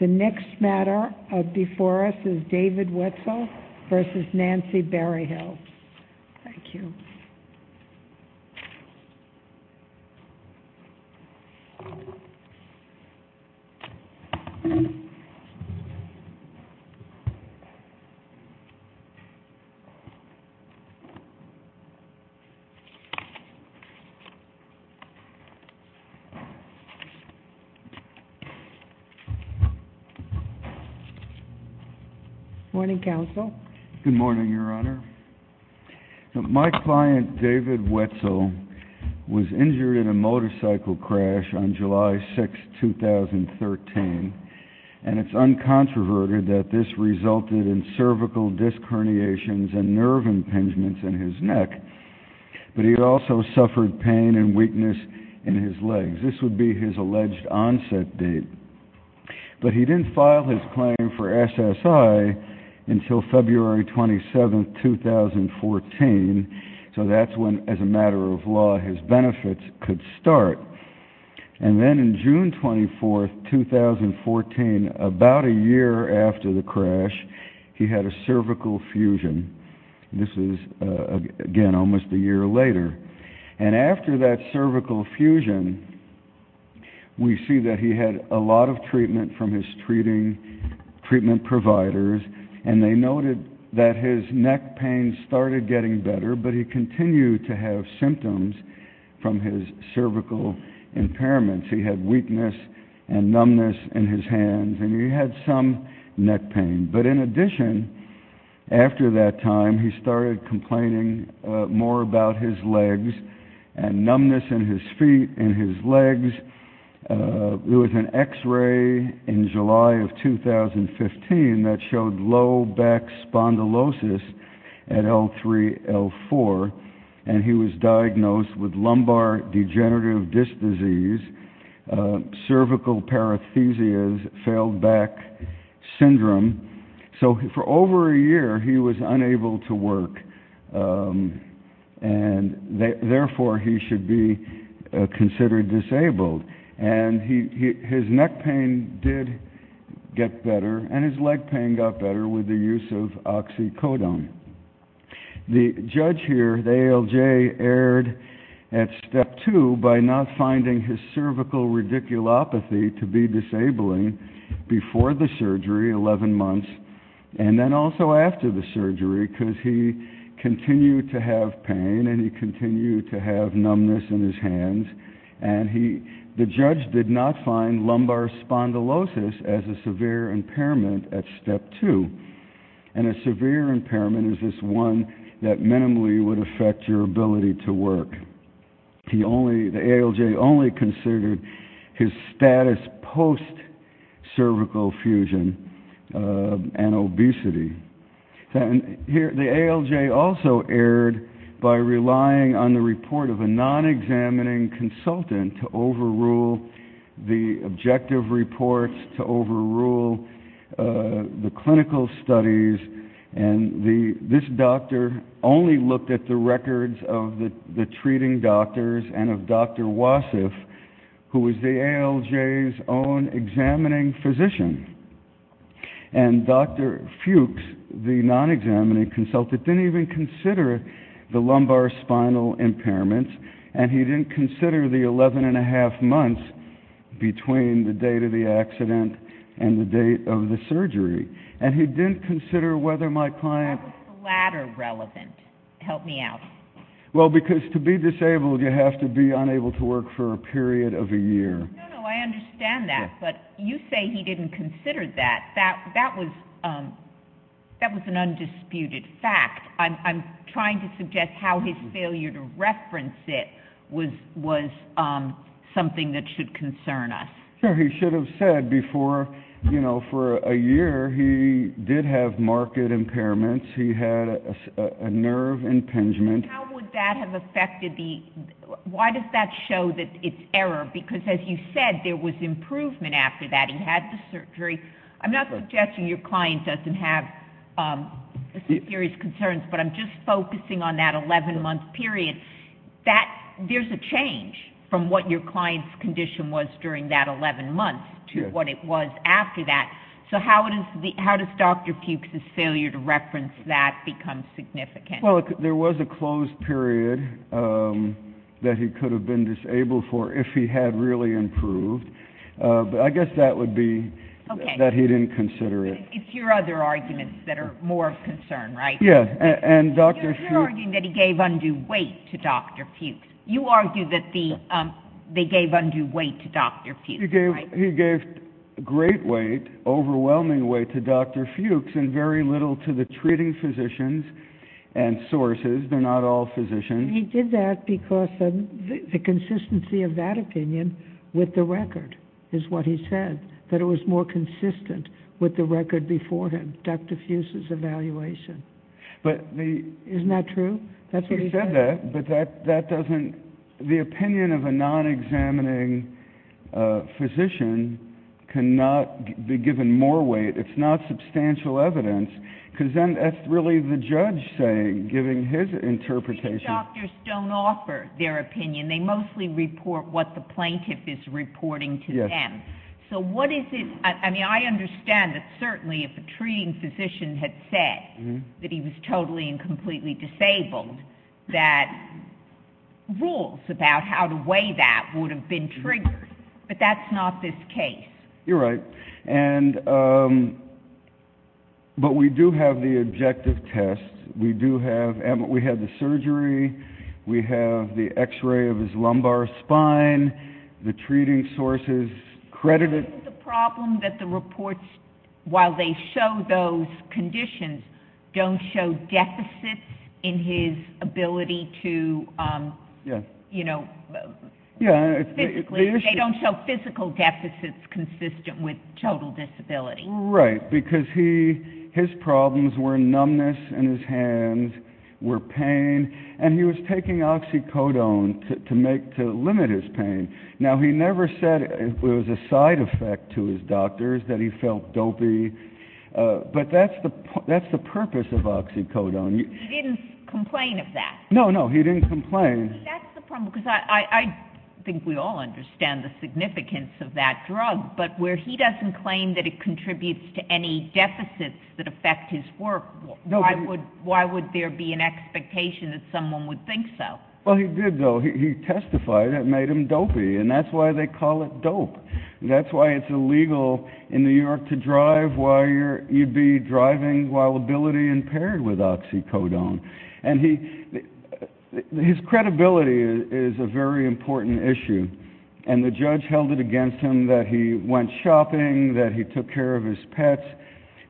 The next matter before us is David Wetzel v. Nancy Berryhill. Good morning, Counsel. Good morning, Your Honor. My client, David Wetzel, was injured in a motorcycle crash on July 6, 2013, and it's uncontroverted that this resulted in cervical disc herniations and nerve impingements in his neck, but he also suffered pain and weakness in his legs. This would be his alleged onset date. But he didn't file his claim for SSI until February 27, 2014, so that's when, as a matter of law, his benefits could start. And then on June 24, 2014, about a year after the crash, he had a cervical fusion. This is, again, almost a year later. And after that cervical fusion, we see that he had a lot of treatment from his treatment providers, and they noted that his neck pain started getting better, but he continued to have symptoms from his cervical impairments. He had weakness and numbness in his hands, and he had some neck pain. But in addition, after that time, he started complaining more about his legs and numbness in his feet and his legs. There was an X-ray in July of 2015 that showed low back spondylosis at L3-L4, and he was diagnosed with lumbar degenerative disc disease, cervical parathesias, failed back syndrome. So for over a year, he was unable to work, and therefore he should be considered disabled. And his neck pain did get better, and his leg pain got better with the use of oxycodone. The judge here, the ALJ, erred at Step 2 by not finding his cervical radiculopathy to be disabling before the surgery, 11 months, and then also after the surgery, because he continued to have pain, and he continued to have numbness in his hands. And the judge did not find lumbar spondylosis as a severe impairment at Step 2, and a severe impairment is this one that minimally would affect your ability to work. The ALJ only considered his status post-cervical fusion and obesity. The ALJ also erred by relying on the report of a non-examining consultant to overrule the objective reports, to overrule the clinical studies, and this doctor only looked at the records of the treating doctors and of Dr. Wasif, who was the ALJ's own examining physician. And Dr. Fuchs, the non-examining consultant, didn't even consider the lumbar spinal impairments, and he didn't consider the 11 1⁄2 months between the date of the accident and the date of the surgery. And he didn't consider whether my client... Why was the latter relevant? Help me out. Well, because to be disabled, you have to be unable to work for a period of a year. No, no, I understand that, but you say he didn't consider that. That was an undisputed fact. I'm trying to suggest how his failure to reference it was something that should concern us. Sure, he should have said before, you know, for a year he did have marked impairments. He had a nerve impingement. How would that have affected the... Why does that show that it's error? Because as you said, there was improvement after that. He had the surgery. I'm not suggesting your client doesn't have serious concerns, but I'm just focusing on that 11-month period. There's a change from what your client's condition was during that 11 months to what it was after that. So how does Dr. Fuchs's failure to reference that become significant? Well, there was a closed period that he could have been disabled for if he had really improved. But I guess that would be that he didn't consider it. It's your other arguments that are more of concern, right? Yeah, and Dr. Fuchs... You're arguing that he gave undue weight to Dr. Fuchs. You argue that they gave undue weight to Dr. Fuchs, right? He gave great weight, overwhelming weight to Dr. Fuchs and very little to the treating physicians and sources. They're not all physicians. He did that because of the consistency of that opinion with the record is what he said, that it was more consistent with the record before him, Dr. Fuchs's evaluation. Isn't that true? That's what he said. He said that, but that doesn't... The opinion of a non-examining physician cannot be given more weight. It's not substantial evidence, because then that's really the judge saying, giving his interpretation. Most doctors don't offer their opinion. They mostly report what the plaintiff is reporting to them. So what is it... I mean, I understand that certainly if a treating physician had said that he was totally and completely disabled, that rules about how to weigh that would have been triggered. But that's not this case. You're right. But we do have the objective test. We have the surgery. We have the X-ray of his lumbar spine. The treating sources credit it. Isn't the problem that the reports, while they show those conditions, don't show deficits in his ability to, you know... They don't show physical deficits consistent with total disability. Right, because his problems were numbness in his hands, were pain, and he was taking oxycodone to limit his pain. Now, he never said it was a side effect to his doctors, that he felt dopey, but that's the purpose of oxycodone. He didn't complain of that. No, no, he didn't complain. That's the problem, because I think we all understand the significance of that drug, but where he doesn't claim that it contributes to any deficits that affect his work, why would there be an expectation that someone would think so? Well, he did, though. He testified it made him dopey, and that's why they call it dope. That's why it's illegal in New York to drive while you'd be driving while ability impaired with oxycodone. And his credibility is a very important issue, and the judge held it against him that he went shopping, that he took care of his pets,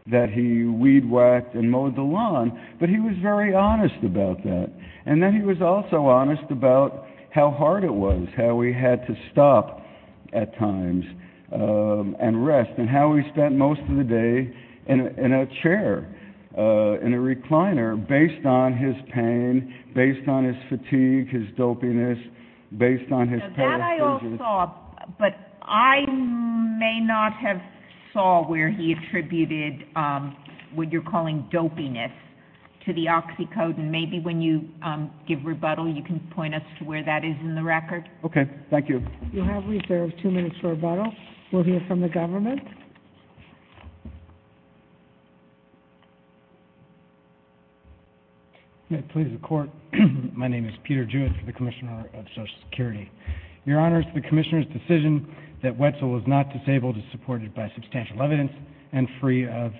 that he weed-whacked and mowed the lawn, but he was very honest about that. And then he was also honest about how hard it was, how we had to stop at times and rest, and how we spent most of the day in a chair, in a recliner, based on his pain, based on his fatigue, his dopiness. So that I all saw, but I may not have saw where he attributed what you're calling dopiness to the oxycodone. Maybe when you give rebuttal you can point us to where that is in the record. Okay, thank you. You have reserved two minutes for rebuttal. We'll hear from the government. May it please the Court, my name is Peter Jewett, the Commissioner of Social Security. Your Honors, the Commissioner's decision that Wetzel was not disabled is supported by substantial evidence and free of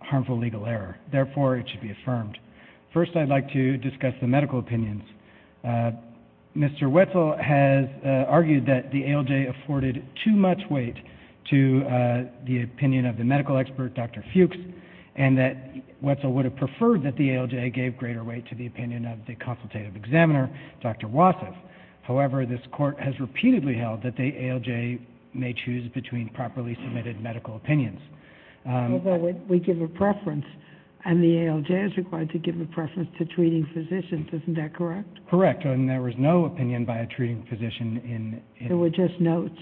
harmful legal error. Therefore, it should be affirmed. First, I'd like to discuss the medical opinions. Mr. Wetzel has argued that the ALJ afforded too much weight to the opinion of the medical expert, Dr. Fuchs, and that Wetzel would have preferred that the ALJ gave greater weight to the opinion of the consultative examiner, Dr. Wassoff. However, this Court has repeatedly held that the ALJ may choose between properly submitted medical opinions. We give a preference, and the ALJ is required to give a preference to treating physicians. Isn't that correct? Correct, and there was no opinion by a treating physician. There were just notes.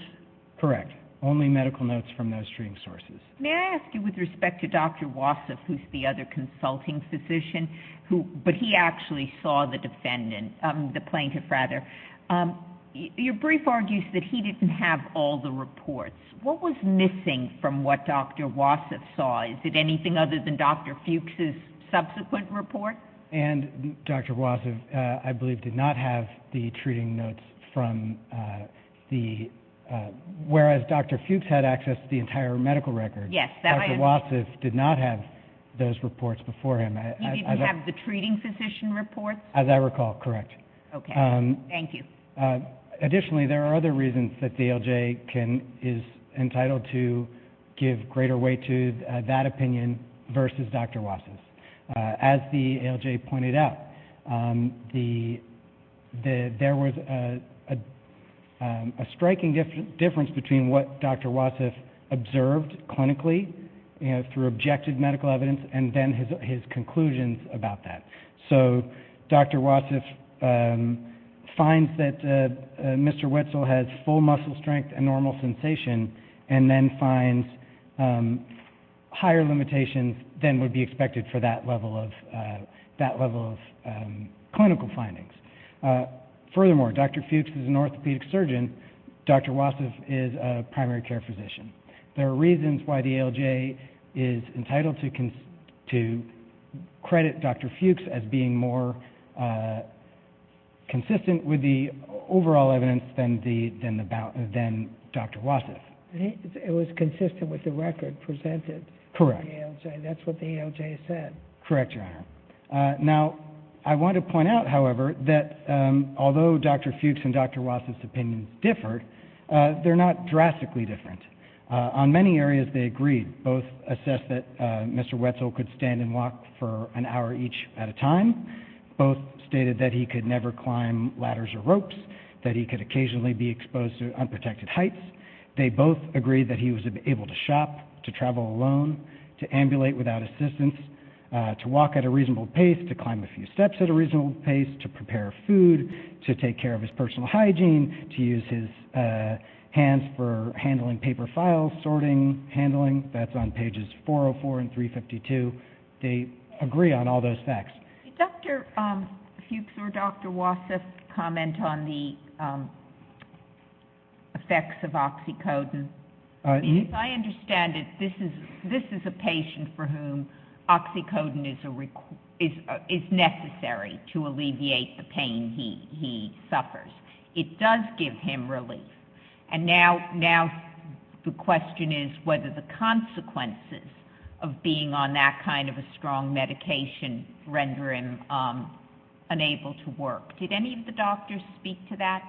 Correct, only medical notes from those treating sources. May I ask you with respect to Dr. Wassoff, who's the other consulting physician, but he actually saw the plaintiff? Your brief argues that he didn't have all the reports. What was missing from what Dr. Wassoff saw? Is it anything other than Dr. Fuchs's subsequent report? And Dr. Wassoff, I believe, did not have the treating notes from the ‑‑ whereas Dr. Fuchs had access to the entire medical record. Yes. Dr. Wassoff did not have those reports before him. He didn't have the treating physician reports? As I recall, correct. Okay, thank you. Additionally, there are other reasons that the ALJ is entitled to give greater weight to that opinion versus Dr. Wassoff's. As the ALJ pointed out, there was a striking difference between what Dr. Wassoff observed clinically through objective medical evidence and then his conclusions about that. So Dr. Wassoff finds that Mr. Wetzel has full muscle strength and normal sensation and then finds higher limitations than would be expected for that level of clinical findings. Furthermore, Dr. Fuchs is an orthopedic surgeon. Dr. Wassoff is a primary care physician. There are reasons why the ALJ is entitled to credit Dr. Fuchs as being more consistent with the overall evidence than Dr. Wassoff. It was consistent with the record presented. Correct. That's what the ALJ said. Correct, Your Honor. Now, I want to point out, however, that although Dr. Fuchs and Dr. Wassoff's opinions differed, they're not drastically different. On many areas, they agreed. Both assessed that Mr. Wetzel could stand and walk for an hour each at a time. Both stated that he could never climb ladders or ropes, that he could occasionally be exposed to unprotected heights. They both agreed that he was able to shop, to travel alone, to ambulate without assistance, to walk at a reasonable pace, to climb a few steps at a reasonable pace, to prepare food, to take care of his personal hygiene, to use his hands for handling paper files, sorting, handling. That's on pages 404 and 352. They agree on all those facts. Did Dr. Fuchs or Dr. Wassoff comment on the effects of oxycodone? If I understand it, this is a patient for whom oxycodone is necessary to alleviate the pain he suffers. It does give him relief. And now the question is whether the consequences of being on that kind of a strong medication render him unable to work. Did any of the doctors speak to that?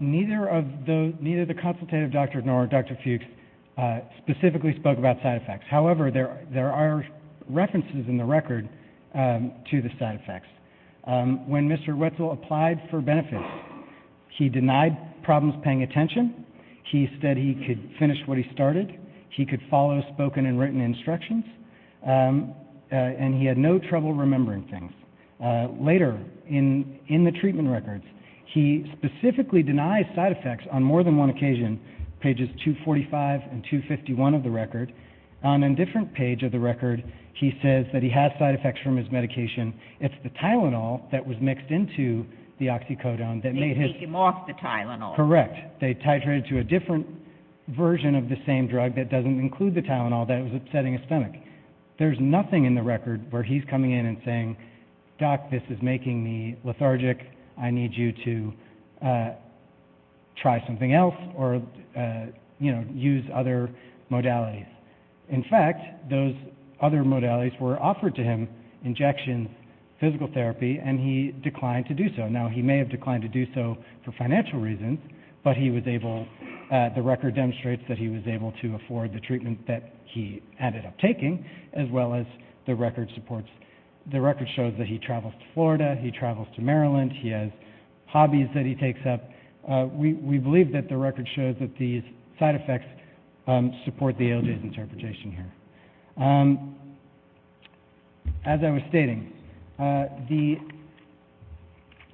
Neither the consultative doctor nor Dr. Fuchs specifically spoke about side effects. However, there are references in the record to the side effects. When Mr. Wetzel applied for benefits, he denied problems paying attention. He said he could finish what he started. He could follow spoken and written instructions, and he had no trouble remembering things. Later in the treatment records, he specifically denies side effects on more than one occasion, pages 245 and 251 of the record. On a different page of the record, he says that he has side effects from his medication. It's the Tylenol that was mixed into the oxycodone that made his... They take him off the Tylenol. Correct. They titrated to a different version of the same drug that doesn't include the Tylenol that was upsetting his stomach. There's nothing in the record where he's coming in and saying, Doc, this is making me lethargic. I need you to try something else or, you know, use other modalities. In fact, those other modalities were offered to him, injections, physical therapy, and he declined to do so. Now, he may have declined to do so for financial reasons, but he was able... The record demonstrates that he was able to afford the treatment that he ended up taking, as well as the record supports... The record shows that he travels to Florida. He travels to Maryland. He has hobbies that he takes up. We believe that the record shows that these side effects support the ALJ's interpretation here. As I was stating,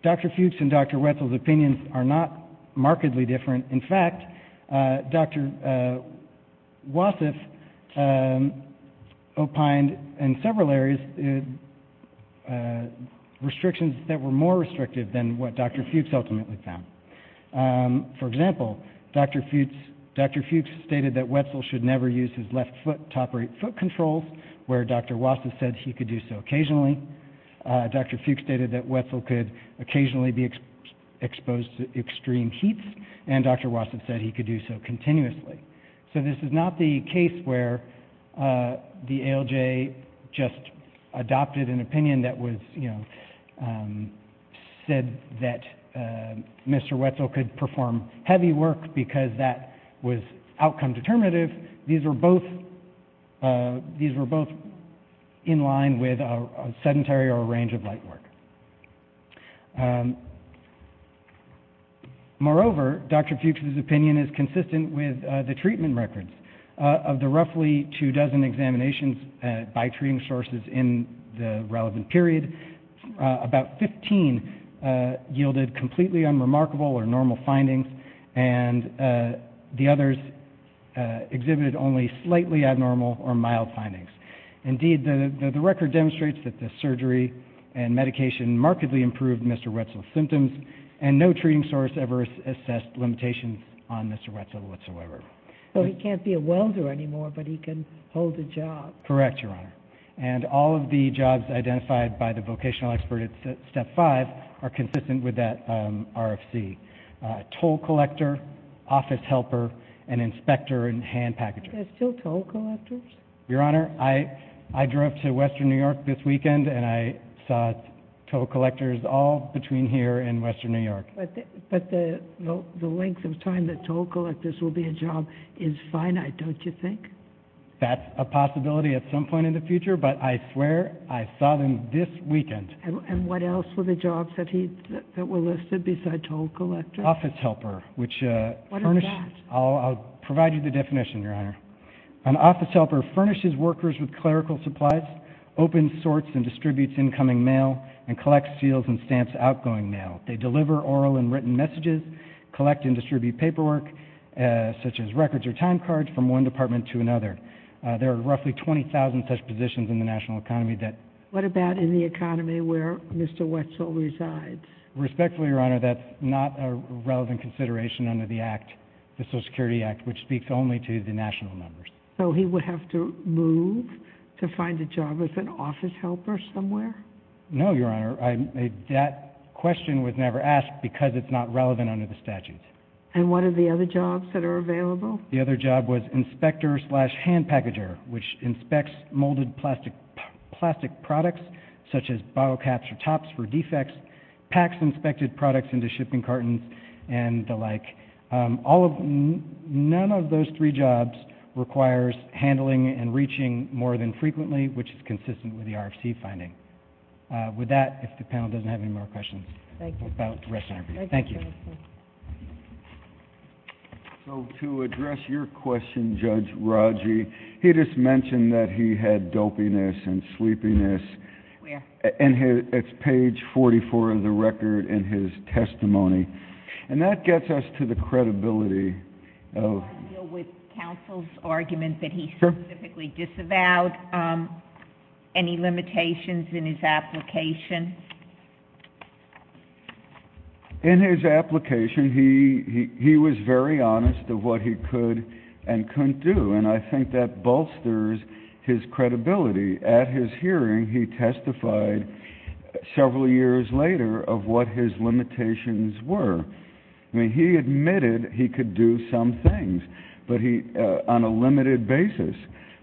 Dr. Fuchs and Dr. Wetzel's opinions are not markedly different. In fact, Dr. Wassef opined in several areas restrictions that were more restrictive than what Dr. Fuchs ultimately found. For example, Dr. Fuchs stated that Wetzel should never use his left foot to operate foot controls, where Dr. Wassef said he could do so occasionally. Dr. Fuchs stated that Wetzel could occasionally be exposed to extreme heat, and Dr. Wassef said he could do so continuously. So this is not the case where the ALJ just adopted an opinion that said that Mr. Wetzel could perform heavy work because that was outcome determinative. These were both in line with a sedentary or a range of light work. Moreover, Dr. Fuchs's opinion is consistent with the treatment records. Of the roughly two dozen examinations by treating sources in the relevant period, about 15 yielded completely unremarkable or normal findings, and the others exhibited only slightly abnormal or mild findings. Indeed, the record demonstrates that the surgery and medication markedly improved Mr. Wetzel's symptoms, and no treating source ever assessed limitations on Mr. Wetzel whatsoever. So he can't be a welder anymore, but he can hold a job. Correct, Your Honor. And all of the jobs identified by the vocational expert at Step 5 are consistent with that RFC, toll collector, office helper, and inspector and hand packager. Are there still toll collectors? Your Honor, I drove to western New York this weekend, and I saw toll collectors all between here and western New York. But the length of time that toll collectors will be a job is finite, don't you think? That's a possibility at some point in the future, but I swear I saw them this weekend. And what else were the jobs that were listed besides toll collectors? Office helper, which furnished... I'll provide you the definition, Your Honor. An office helper furnishes workers with clerical supplies, opens, sorts, and distributes incoming mail, and collects, seals, and stamps outgoing mail. They deliver oral and written messages, collect and distribute paperwork such as records or time cards from one department to another. There are roughly 20,000 such positions in the national economy that... What about in the economy where Mr. Wetzel resides? Respectfully, Your Honor, that's not a relevant consideration under the act, the Social Security Act, which speaks only to the national numbers. So he would have to move to find a job as an office helper somewhere? No, Your Honor. That question was never asked because it's not relevant under the statute. And what are the other jobs that are available? The other job was inspector slash hand packager, which inspects molded plastic products such as bottle caps or tops for defects, packs inspected products into shipping cartons and the like. All of them, none of those three jobs requires handling and reaching more than frequently, which is consistent with the RFC finding. With that, if the panel doesn't have any more questions. Thank you. Thank you. So to address your question, Judge Rodgey, he just mentioned that he had dopiness and sleepiness. Where? It's page 44 of the record in his testimony. And that gets us to the credibility. With counsel's argument that he specifically disavowed any limitations in his application? In his application, he was very honest of what he could and couldn't do. And I think that bolsters his credibility. At his hearing, he testified several years later of what his limitations were. I mean, he admitted he could do some things, but on a limited basis.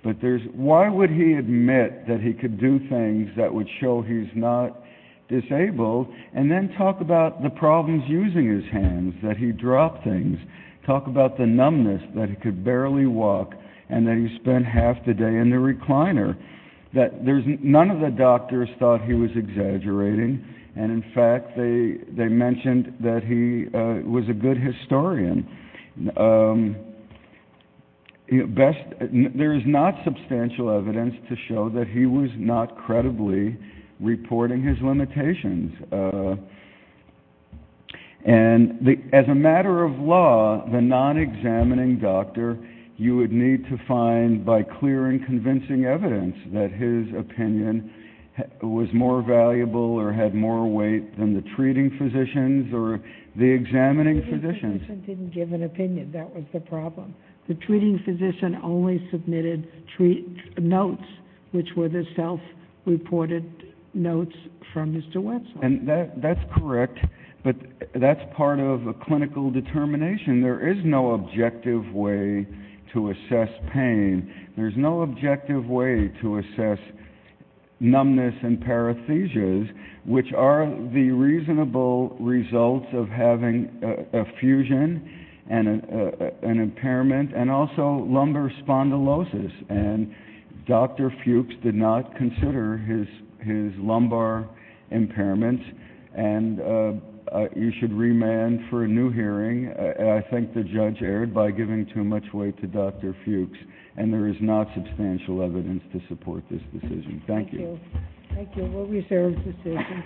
But why would he admit that he could do things that would show he's not disabled and then talk about the problems using his hands, that he dropped things, talk about the numbness that he could barely walk, and that he spent half the day in the recliner? None of the doctors thought he was exaggerating. And, in fact, they mentioned that he was a good historian. There is not substantial evidence to show that he was not credibly reporting his limitations. And as a matter of law, the non-examining doctor, you would need to find by clear and convincing evidence that his opinion was more valuable or had more weight than the treating physicians or the examining physicians. The treating physician didn't give an opinion. That was the problem. The treating physician only submitted notes, which were the self-reported notes from Mr. Wetzel. And that's correct, but that's part of a clinical determination. There is no objective way to assess pain. There's no objective way to assess numbness and parathesias, which are the reasonable results of having a fusion, an impairment, and also lumbar spondylosis. And Dr. Fuchs did not consider his lumbar impairment. And you should remand for a new hearing. I think the judge erred by giving too much weight to Dr. Fuchs, and there is not substantial evidence to support this decision. Thank you. Thank you. Thank you. We'll reserve the decision.